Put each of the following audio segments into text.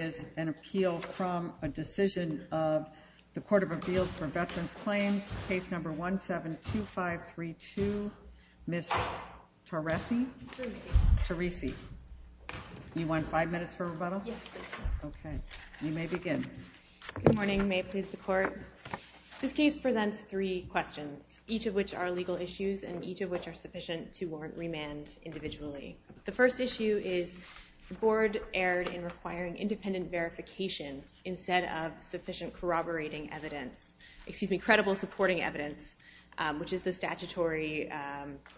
is an appeal from a decision of the Court of Appeals for Veterans Claims, Case No. 172532, Ms. Teresi. You want five minutes for rebuttal? Yes, please. Okay. You may begin. Good morning. May it please the Court? This case presents three questions, each of which are legal issues and each of which are sufficient to warrant remand individually. The first issue is the Board erred in requiring independent verification instead of sufficient corroborating evidence, excuse me, credible supporting evidence, which is the statutory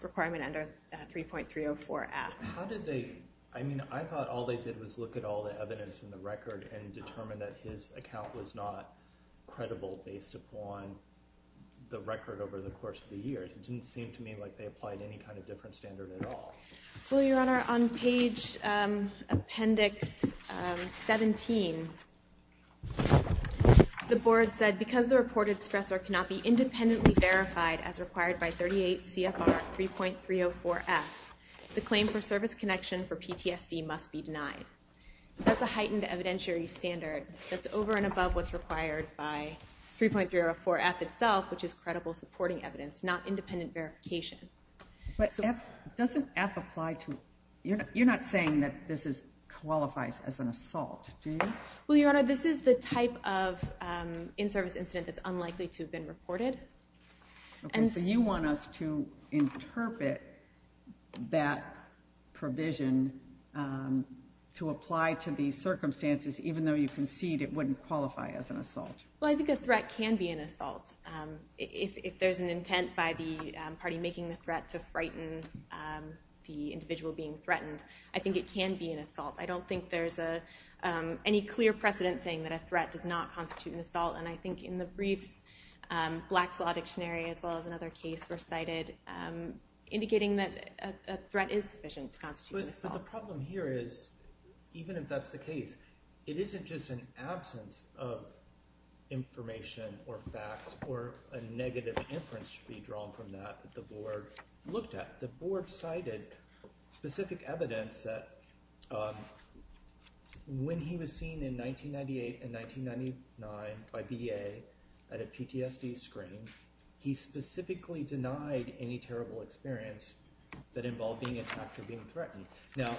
requirement under 3.304-F. How did they – I mean, I thought all they did was look at all the evidence in the record and determine that his account was not credible based upon the record over the course of the years. It didn't seem to me like they applied any kind of different standard at all. Well, Your Honor, on page Appendix 17, the Board said, because the reported stressor cannot be independently verified as required by 38 CFR 3.304-F, the claim for service connection for PTSD must be denied. That's a heightened evidentiary standard that's over and above what's required by 3.304-F itself, which is credible supporting evidence, not independent verification. But doesn't F apply to – you're not saying that this qualifies as an assault, do you? Well, Your Honor, this is the type of in-service incident that's unlikely to have been reported. Okay, so you want us to interpret that provision to apply to these circumstances, even though you concede it wouldn't qualify as an assault. Well, I think a threat can be an assault. If there's an intent by the party making the threat to frighten the individual being threatened, I think it can be an assault. I don't think there's any clear precedent saying that a threat does not constitute an assault. And I think in the briefs, Black's Law Dictionary, as well as another case, recited indicating that a threat is sufficient to constitute an assault. Well, the problem here is, even if that's the case, it isn't just an absence of information or facts or a negative inference to be drawn from that that the board looked at. The board cited specific evidence that when he was seen in 1998 and 1999 by VA at a PTSD screening, he specifically denied any terrible experience that involved being attacked or being threatened. Now,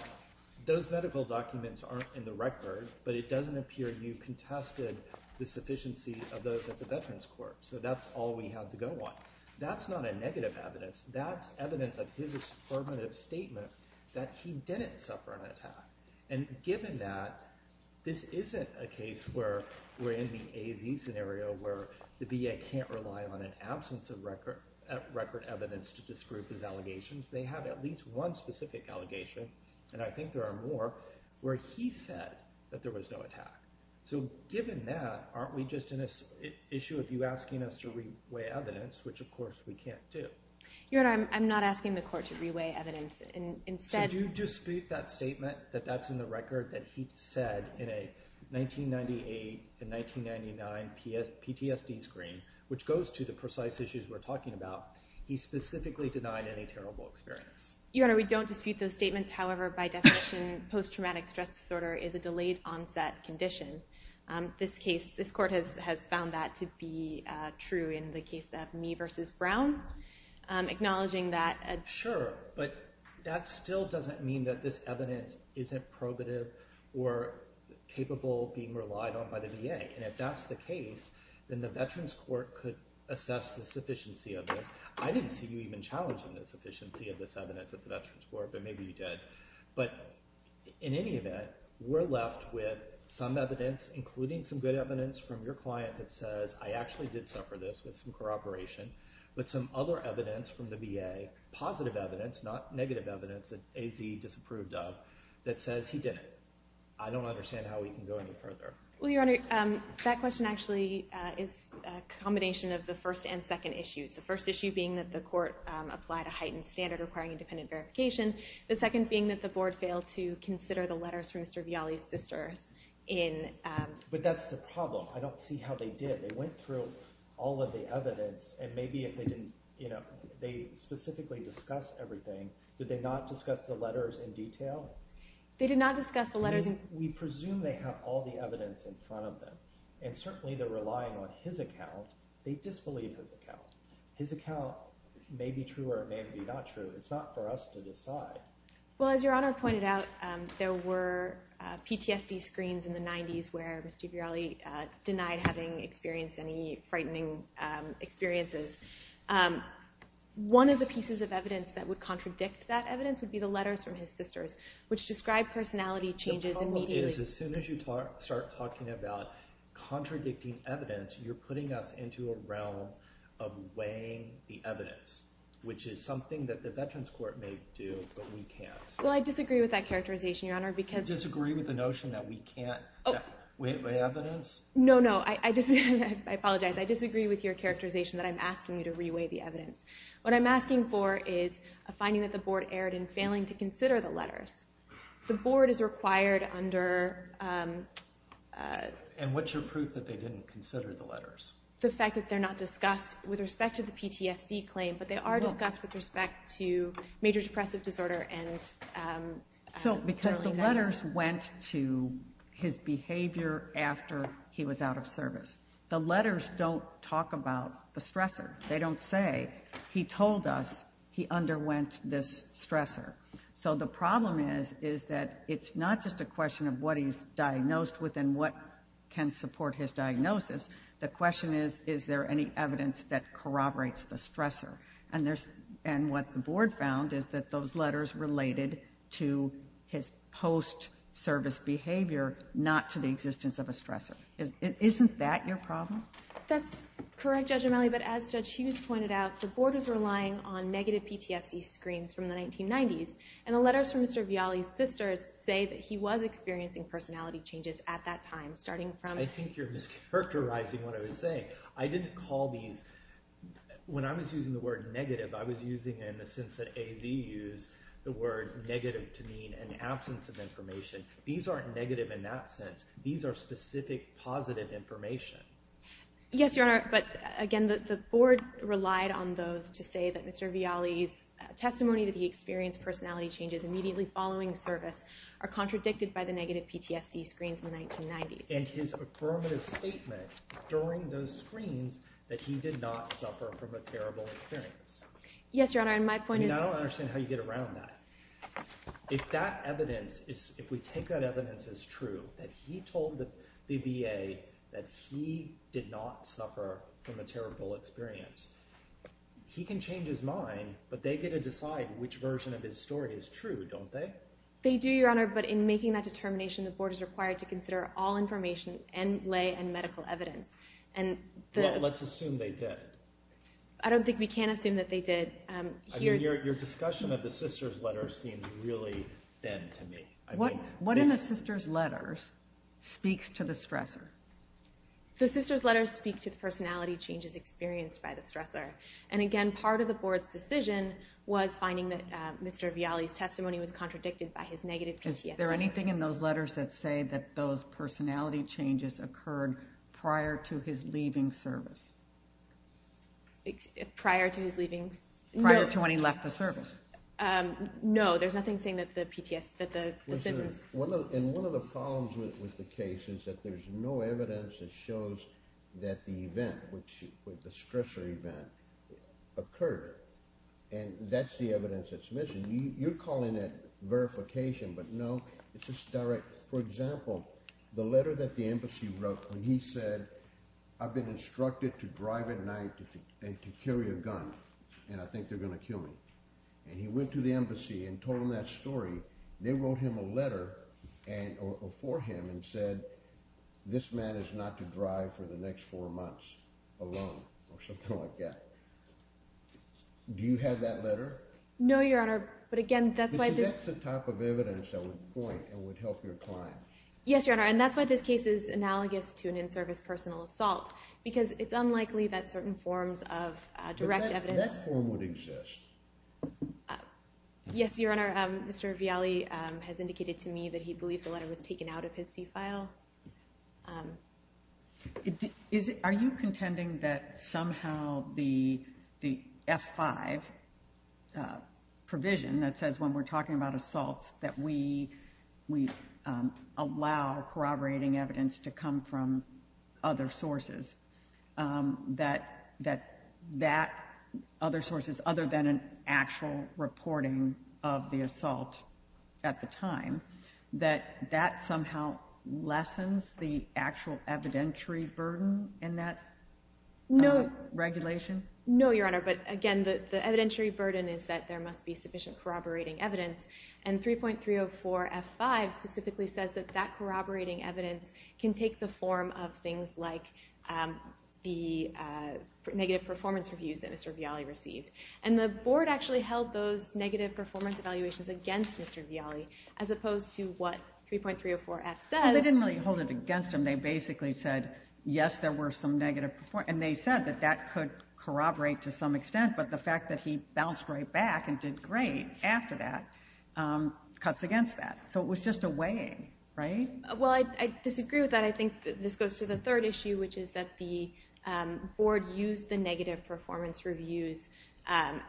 those medical documents aren't in the record, but it doesn't appear you contested the sufficiency of those at the Veterans Court. So that's all we have to go on. That's not a negative evidence. That's evidence of his affirmative statement that he didn't suffer an attack. And given that, this isn't a case where we're in the AZ scenario, where the VA can't rely on an absence of record evidence to disprove his allegations. They have at least one specific allegation, and I think there are more, where he said that there was no attack. So given that, aren't we just in an issue of you asking us to reweigh evidence, which, of course, we can't do? Your Honor, I'm not asking the court to reweigh evidence. Should you dispute that statement, that that's in the record, that he said in a 1998 and 1999 PTSD screen, which goes to the precise issues we're talking about, he specifically denied any terrible experience? Your Honor, we don't dispute those statements. However, by definition, post-traumatic stress disorder is a delayed onset condition. This court has found that to be true in the case of me versus Brown, acknowledging that. Sure, but that still doesn't mean that this evidence isn't probative or capable of being relied on by the VA. And if that's the case, then the Veterans Court could assess the sufficiency of this. I didn't see you even challenging the sufficiency of this evidence at the Veterans Court, but maybe you did. But in any event, we're left with some evidence, including some good evidence from your client that says, I actually did suffer this with some corroboration, but some other evidence from the VA, positive evidence, not negative evidence that AZ disapproved of, that says he didn't. I don't understand how we can go any further. Well, Your Honor, that question actually is a combination of the first and second issues. The first issue being that the court applied a heightened standard requiring independent verification. The second being that the board failed to consider the letters from Mr. Vialli's sisters. But that's the problem. I don't see how they did. They went through all of the evidence, and maybe they specifically discussed everything. Did they not discuss the letters in detail? They did not discuss the letters. We presume they have all the evidence in front of them. And certainly they're relying on his account. They disbelieve his account. His account may be true or it may be not true. It's not for us to decide. Well, as Your Honor pointed out, there were PTSD screens in the 90s where Mr. Vialli denied having experienced any frightening experiences. One of the pieces of evidence that would contradict that evidence would be the letters from his sisters, which describe personality changes immediately. The problem is as soon as you start talking about contradicting evidence, which is something that the Veterans Court may do, but we can't. Well, I disagree with that characterization, Your Honor. You disagree with the notion that we can't weigh evidence? No, no. I apologize. I disagree with your characterization that I'm asking you to re-weigh the evidence. What I'm asking for is a finding that the board erred in failing to consider the letters. The board is required under... And what's your proof that they didn't consider the letters? The fact that they're not discussed with respect to the PTSD claim, but they are discussed with respect to major depressive disorder and... Because the letters went to his behavior after he was out of service. The letters don't talk about the stressor. They don't say, he told us he underwent this stressor. So the problem is that it's not just a question of what he's diagnosed with and what can support his diagnosis. The question is, is there any evidence that corroborates the stressor? And what the board found is that those letters related to his post-service behavior, not to the existence of a stressor. Isn't that your problem? That's correct, Judge O'Malley, but as Judge Hughes pointed out, the board was relying on negative PTSD screens from the 1990s, and the letters from Mr. Vialli's sisters say that he was experiencing personality changes at that time, starting from... I think you're mischaracterizing what I was saying. I didn't call these... When I was using the word negative, I was using it in the sense that AZ used the word negative to mean an absence of information. These aren't negative in that sense. These are specific positive information. Yes, Your Honor, but again, the board relied on those to say that Mr. Vialli's testimony that he experienced personality changes immediately following service are contradicted by the negative PTSD screens in the 1990s. And his affirmative statement during those screens that he did not suffer from a terrible experience. Yes, Your Honor, and my point is... I don't understand how you get around that. If that evidence, if we take that evidence as true, that he told the VA that he did not suffer from a terrible experience, he can change his mind, but they get to decide which version of his story is true, don't they? They do, Your Honor, but in making that determination, the board is required to consider all information and lay and medical evidence. Let's assume they did. I don't think we can assume that they did. Your discussion of the sister's letters seems really dead to me. What in the sister's letters speaks to the stressor? The sister's letters speak to the personality changes experienced by the stressor. And again, part of the board's decision was finding that Mr. Aviali's testimony was contradicted by his negative PTSD. Is there anything in those letters that say that those personality changes occurred prior to his leaving service? Prior to his leaving? Prior to when he left the service. No, there's nothing saying that the PTSD, that the symptoms... And one of the problems with the case is that there's no evidence that shows that the event, the stressor event, occurred. And that's the evidence that's missing. You're calling it verification, but no, it's just direct. For example, the letter that the embassy wrote when he said, I've been instructed to drive at night and to carry a gun, and I think they're going to kill me. And he went to the embassy and told them that story. They wrote him a letter for him and said, this man is not to drive for the next four months alone, or something like that. Do you have that letter? No, Your Honor, but again, that's why this... You said that's the type of evidence that would point and would help your client. Yes, Your Honor, and that's why this case is analogous to an in-service personal assault, because it's unlikely that certain forms of direct evidence... But that form would exist. Yes, Your Honor, Mr. Vialli has indicated to me that he believes the letter was taken out of his C-file. Are you contending that somehow the F-5 provision that says when we're talking about assaults that we allow corroborating evidence to come from other sources, that other sources other than an actual reporting of the assault at the time, that that somehow lessens the actual evidentiary burden in that regulation? No, Your Honor, but again, the evidentiary burden is that there must be sufficient corroborating evidence, and 3.304 F-5 specifically says that that corroborating evidence can take the form of things like the negative performance reviews that Mr. Vialli received. And the Board actually held those negative performance evaluations against Mr. Vialli, as opposed to what 3.304 F says. Well, they didn't really hold it against him. They basically said, yes, there were some negative... And they said that that could corroborate to some extent, but the fact that he bounced right back and did great after that cuts against that. So it was just a weighing, right? Well, I disagree with that. I think this goes to the third issue, which is that the Board used the negative performance reviews as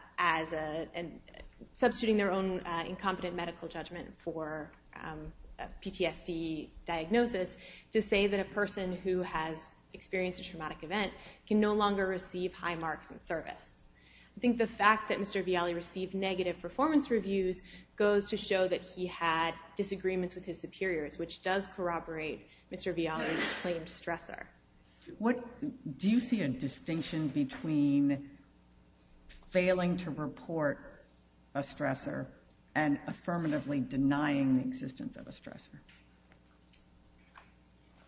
substituting their own incompetent medical judgment for PTSD diagnosis to say that a person who has experienced a traumatic event can no longer receive high marks in service. I think the fact that Mr. Vialli received negative performance reviews goes to show that he had disagreements with his superiors, which does corroborate Mr. Vialli's claimed stressor. Do you see a distinction between failing to report a stressor and affirmatively denying the existence of a stressor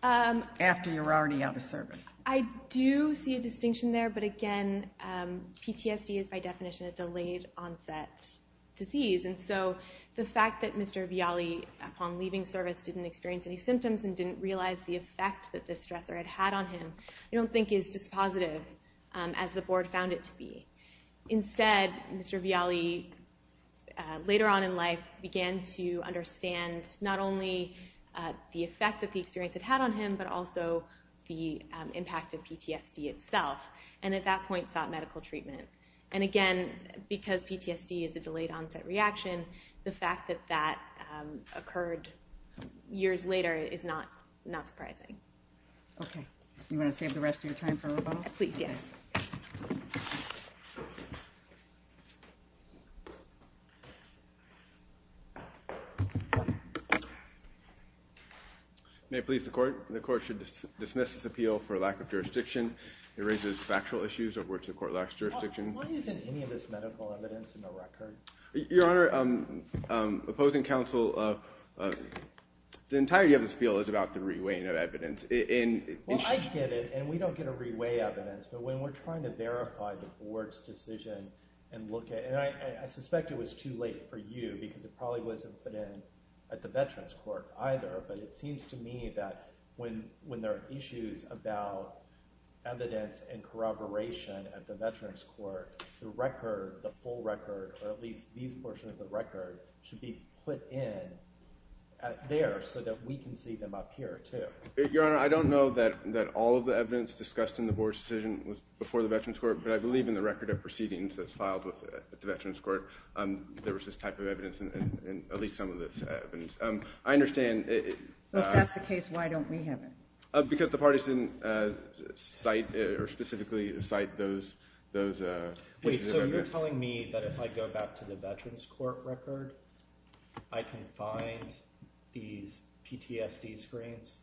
after you're already out of service? I do see a distinction there, but again, PTSD is by definition a delayed-onset disease. And so the fact that Mr. Vialli, upon leaving service, didn't experience any symptoms and didn't realize the effect that the stressor had had on him I don't think is just as positive as the Board found it to be. Instead, Mr. Vialli, later on in life, began to understand not only the effect that the experience had had on him, but also the impact of PTSD itself, and at that point sought medical treatment. And again, because PTSD is a delayed-onset reaction, the fact that that occurred years later is not surprising. Okay. Do you want to save the rest of your time for rebuttal? Please, yes. May it please the Court, the Court should dismiss this appeal for lack of jurisdiction. It raises factual issues over which the Court lacks jurisdiction. Why isn't any of this medical evidence in the record? Your Honor, opposing counsel, the entirety of this appeal is about the re-weighing of evidence. Well, I get it, and we don't get a re-weigh evidence, but when we're trying to verify the Board's decision and look at it, and I suspect it was too late for you because it probably wasn't put in at the Veterans Court either, but it seems to me that when there are issues about evidence and corroboration at the Veterans Court, the record, the full record, or at least these portions of the record, should be put in there so that we can see them up here too. Your Honor, I don't know that all of the evidence discussed in the Board's decision was before the Veterans Court, but I believe in the record of proceedings that's filed with the Veterans Court there was this type of evidence in at least some of this evidence. I understand. If that's the case, why don't we have it? Because the parties didn't specifically cite those pieces of evidence. Wait, so you're telling me that if I go back to the Veterans Court record, I can find these PTSD screens?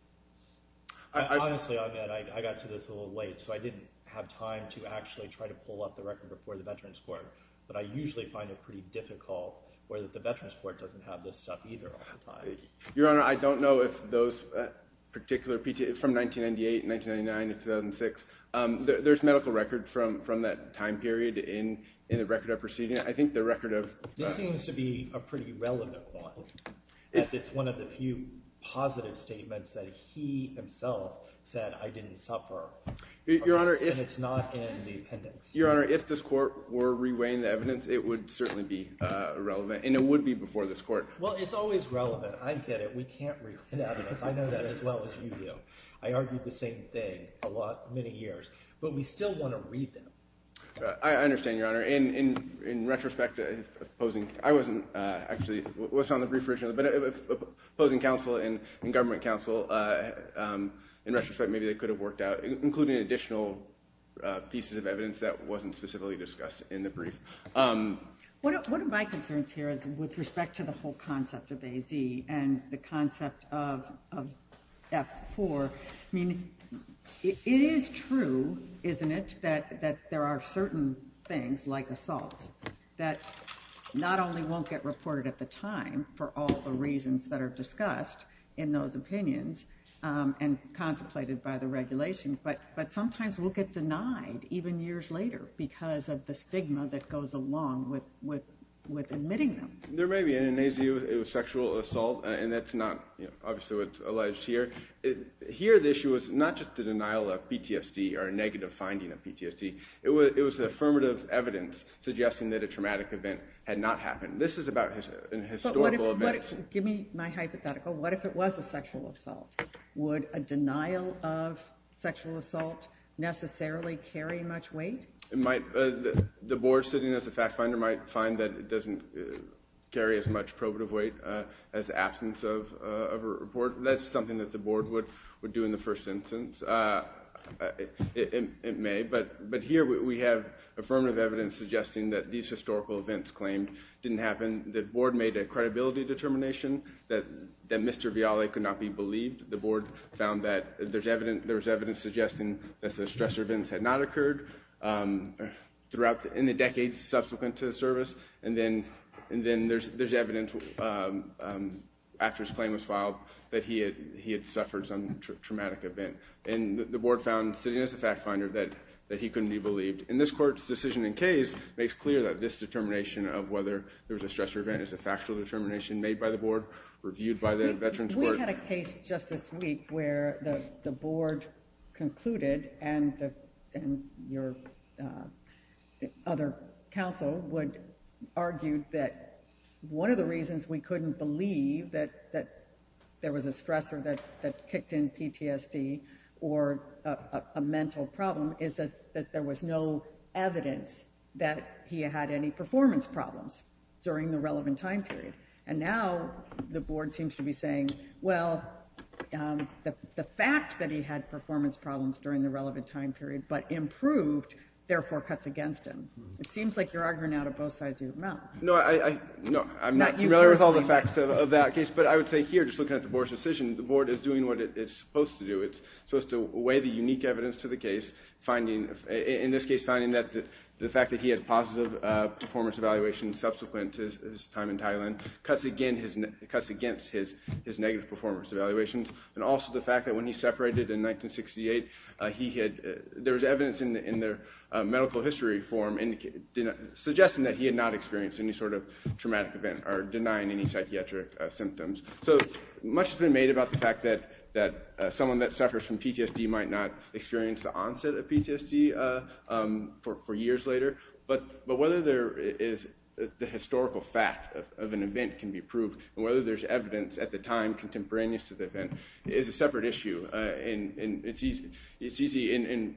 Honestly, I got to this a little late, so I didn't have time to actually try to pull up the record before the Veterans Court, but I usually find it pretty difficult where the Veterans Court doesn't have this stuff either all the time. Your Honor, I don't know if those particular PTSD, from 1998 and 1999 to 2006, there's medical record from that time period in the record of proceedings. I think the record of— This seems to be a pretty relevant one as it's one of the few positive statements that he himself said, I didn't suffer, and it's not in the appendix. Your Honor, if this Court were reweighing the evidence, it would certainly be relevant, and it would be before this Court. Well, it's always relevant. I get it. We can't reweigh the evidence. I know that as well as you do. I argued the same thing a lot, many years, but we still want to read them. I understand, Your Honor. In retrospect, if opposing— I wasn't actually— It was on the brief originally, but if opposing counsel and government counsel, in retrospect, maybe they could have worked out, including additional pieces of evidence that wasn't specifically discussed in the brief. One of my concerns here is with respect to the whole concept of AZ and the concept of F4. I mean, it is true, isn't it, that there are certain things like assaults that not only won't get reported at the time for all the reasons that are discussed in those opinions and contemplated by the regulation, but sometimes will get denied even years later because of the stigma that goes along with admitting them. There may be an AZ with sexual assault, and that's not obviously what's alleged here. Here, the issue is not just the denial of PTSD or a negative finding of PTSD. It was the affirmative evidence suggesting that a traumatic event had not happened. This is about a historical event. Give me my hypothetical. What if it was a sexual assault? Would a denial of sexual assault necessarily carry much weight? It might. The board sitting as a fact finder might find that it doesn't carry as much probative weight as the absence of a report. That's something that the board would do in the first instance. It may. But here we have affirmative evidence suggesting that these historical events claimed didn't happen. The board made a credibility determination that Mr. Viale could not be believed. The board found that there was evidence suggesting that the stressor events had not occurred in the decades subsequent to the service, and then there's evidence after his claim was filed that he had suffered some traumatic event. And the board found, sitting as a fact finder, that he couldn't be believed. And this court's decision in case makes clear that this determination of whether there was a stressor event is a factual determination made by the board, reviewed by the veteran's court. We had a case just this week where the board concluded, and your other counsel argued that one of the reasons we couldn't believe that there was a stressor that kicked in PTSD or a mental problem is that there was no evidence that he had any performance problems during the relevant time period. And now the board seems to be saying, well, the fact that he had performance problems during the relevant time period but improved, therefore cuts against him. It seems like you're arguing out of both sides of your mouth. No, I'm not familiar with all the facts of that case, but I would say here, just looking at the board's decision, the board is doing what it's supposed to do. It's supposed to weigh the unique evidence to the case, in this case, finding that the fact that he had positive performance evaluations subsequent to his time in Thailand cuts against his negative performance evaluations, and also the fact that when he separated in 1968, there was evidence in their medical history form suggesting that he had not experienced any sort of traumatic event or denying any psychiatric symptoms. So much has been made about the fact that someone that suffers from PTSD might not experience the onset of PTSD for years later. But whether there is the historical fact of an event can be proved, and whether there's evidence at the time contemporaneous to the event is a separate issue. And it's easy, and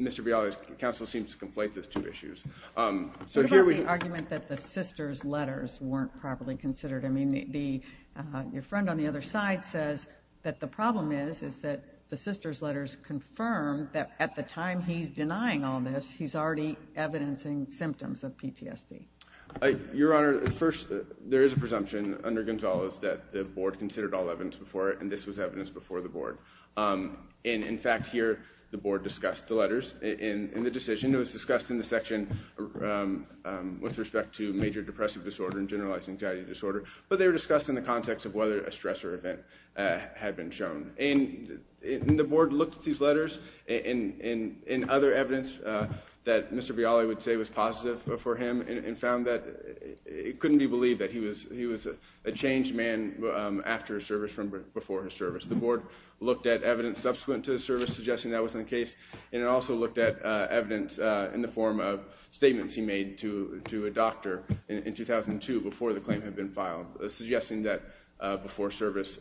Mr. Viola's counsel seems to conflate those two issues. What about the argument that the sister's letters weren't properly considered? I mean, your friend on the other side says that the problem is that the sister's letters confirm that at the time he's denying all this, he's already evidencing symptoms of PTSD. Your Honor, first, there is a presumption under Gonzales that the board considered all evidence before it, and this was evidence before the board. And in fact, here, the board discussed the letters in the decision. It was discussed in the section and generalized anxiety disorder, but they were discussed in the context of whether a stressor event had been shown. And the board looked at these letters and other evidence that Mr. Viola would say was positive for him, and found that it couldn't be believed that he was a changed man after his service from before his service. The board looked at evidence subsequent to his service, suggesting that was the case, and it also looked at evidence in the form of statements he made to a doctor in 2002 before the claim had been filed, suggesting that before service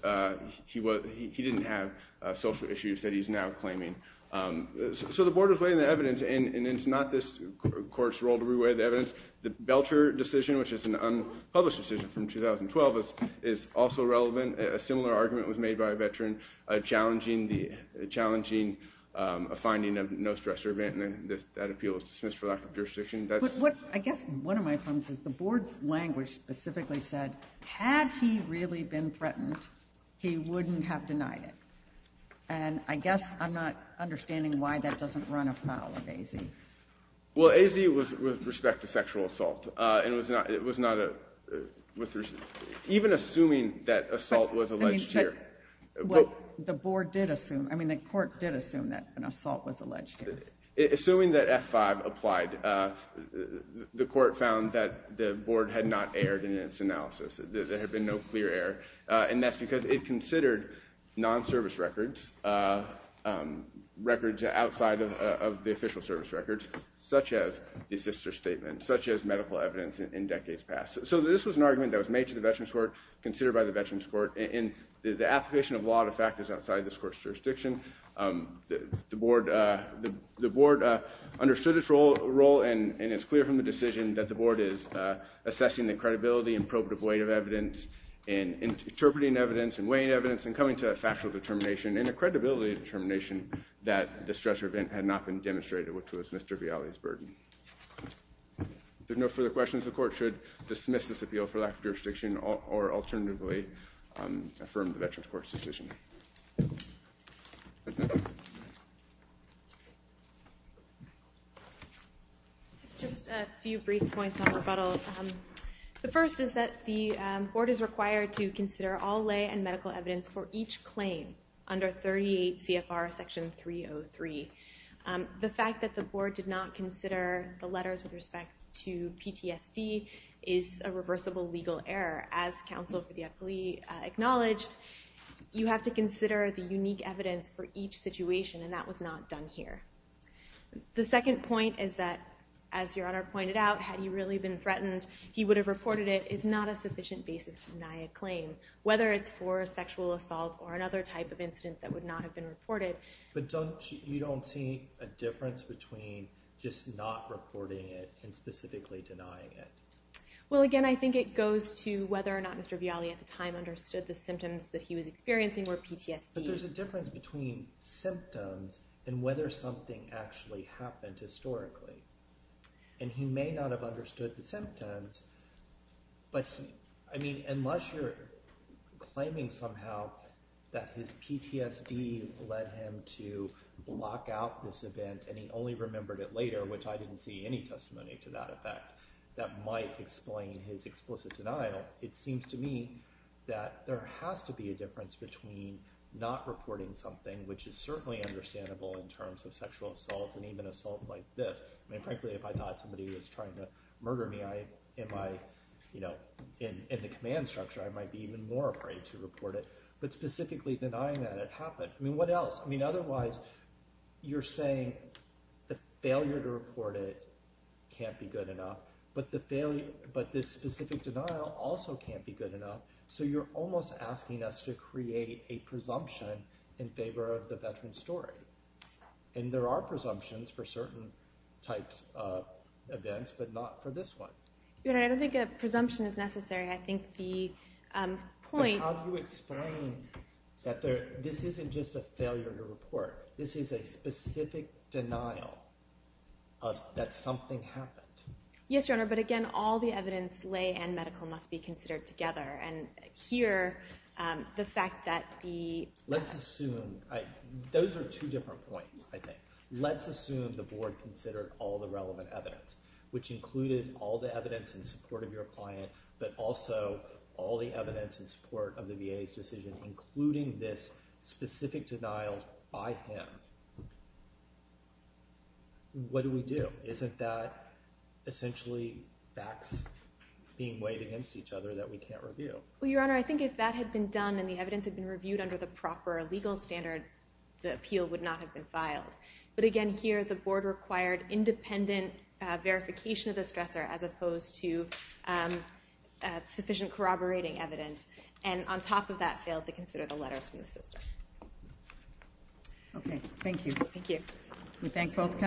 he didn't have social issues that he's now claiming. So the board was weighing the evidence, and it's not this court's role to weigh the evidence. The Belcher decision, which is an unpublished decision from 2012, is also relevant. A similar argument was made by a veteran challenging a finding of no stressor event, and that appeal was dismissed for lack of jurisdiction. I guess one of my problems is the board's language specifically said that had he really been threatened, he wouldn't have denied it. And I guess I'm not understanding why that doesn't run afoul of AZ. Well, AZ was with respect to sexual assault. It was not a... Even assuming that assault was alleged here... But the board did assume... I mean, the court did assume that an assault was alleged here. Assuming that F-5 applied, the court found that the board had not erred in its analysis. There had been no clear error, and that's because it considered non-service records, records outside of the official service records, such as the assister statement, such as medical evidence in decades past. So this was an argument that was made to the Veterans Court, considered by the Veterans Court, and the application of law, in fact, is outside this court's jurisdiction. The board understood its role, and it's clear from the decision that the board is assessing the credibility and probative weight of evidence and interpreting evidence and weighing evidence and coming to a factual determination and a credibility determination that the stressor event had not been demonstrated, which was Mr. Vialli's burden. If there are no further questions, the court should dismiss this appeal for lack of jurisdiction or alternatively affirm the Veterans Court's decision. Thank you. Just a few brief points on rebuttal. The first is that the board is required to consider all lay and medical evidence for each claim under 38 CFR Section 303. The fact that the board did not consider the letters with respect to PTSD is a reversible legal error. As counsel for the affilee acknowledged, you have to consider the unique evidence for each situation, and that was not done here. The second point is that, as Your Honor pointed out, had he really been threatened, he would have reported it, is not a sufficient basis to deny a claim, whether it's for sexual assault or another type of incident that would not have been reported. But you don't see a difference between just not reporting it and specifically denying it? Well, again, I think it goes to whether or not Mr. Vialli at the time understood the symptoms that he was experiencing were PTSD. But there's a difference between symptoms and whether something actually happened historically. And he may not have understood the symptoms, but unless you're claiming somehow that his PTSD led him to block out this event and he only remembered it later, which I didn't see any testimony to that effect, that might explain his explicit denial, it seems to me that there has to be a difference between not reporting something, which is certainly understandable in terms of sexual assault and even assault like this. I mean, frankly, if I thought somebody was trying to murder me, in the command structure, I might be even more afraid to report it. But specifically denying that it happened, I mean, what else? I mean, otherwise you're saying the failure to report it can't be good enough, but this specific denial also can't be good enough, so you're almost asking us to create a presumption in favor of the veteran's story. And there are presumptions for certain types of events, but not for this one. I don't think a presumption is necessary. I think the point... But how do you explain that this isn't just a failure to report? This is a specific denial that something happened. Yes, Your Honor, but again, all the evidence, lay and medical, must be considered together. And here, the fact that the... Let's assume... Those are two different points, I think. Let's assume the board considered all the relevant evidence, which included all the evidence in support of your client, but also all the evidence in support of the VA's decision, including this specific denial by him. What do we do? Isn't that essentially facts being weighed against each other that we can't review? Well, Your Honor, I think if that had been done and the evidence had been reviewed under the proper legal standard, the appeal would not have been filed. But again, here, the board required independent verification of the stressor as opposed to sufficient corroborating evidence. And on top of that, failed to consider the letters from the system. Okay, thank you. Thank you. We thank both counsel.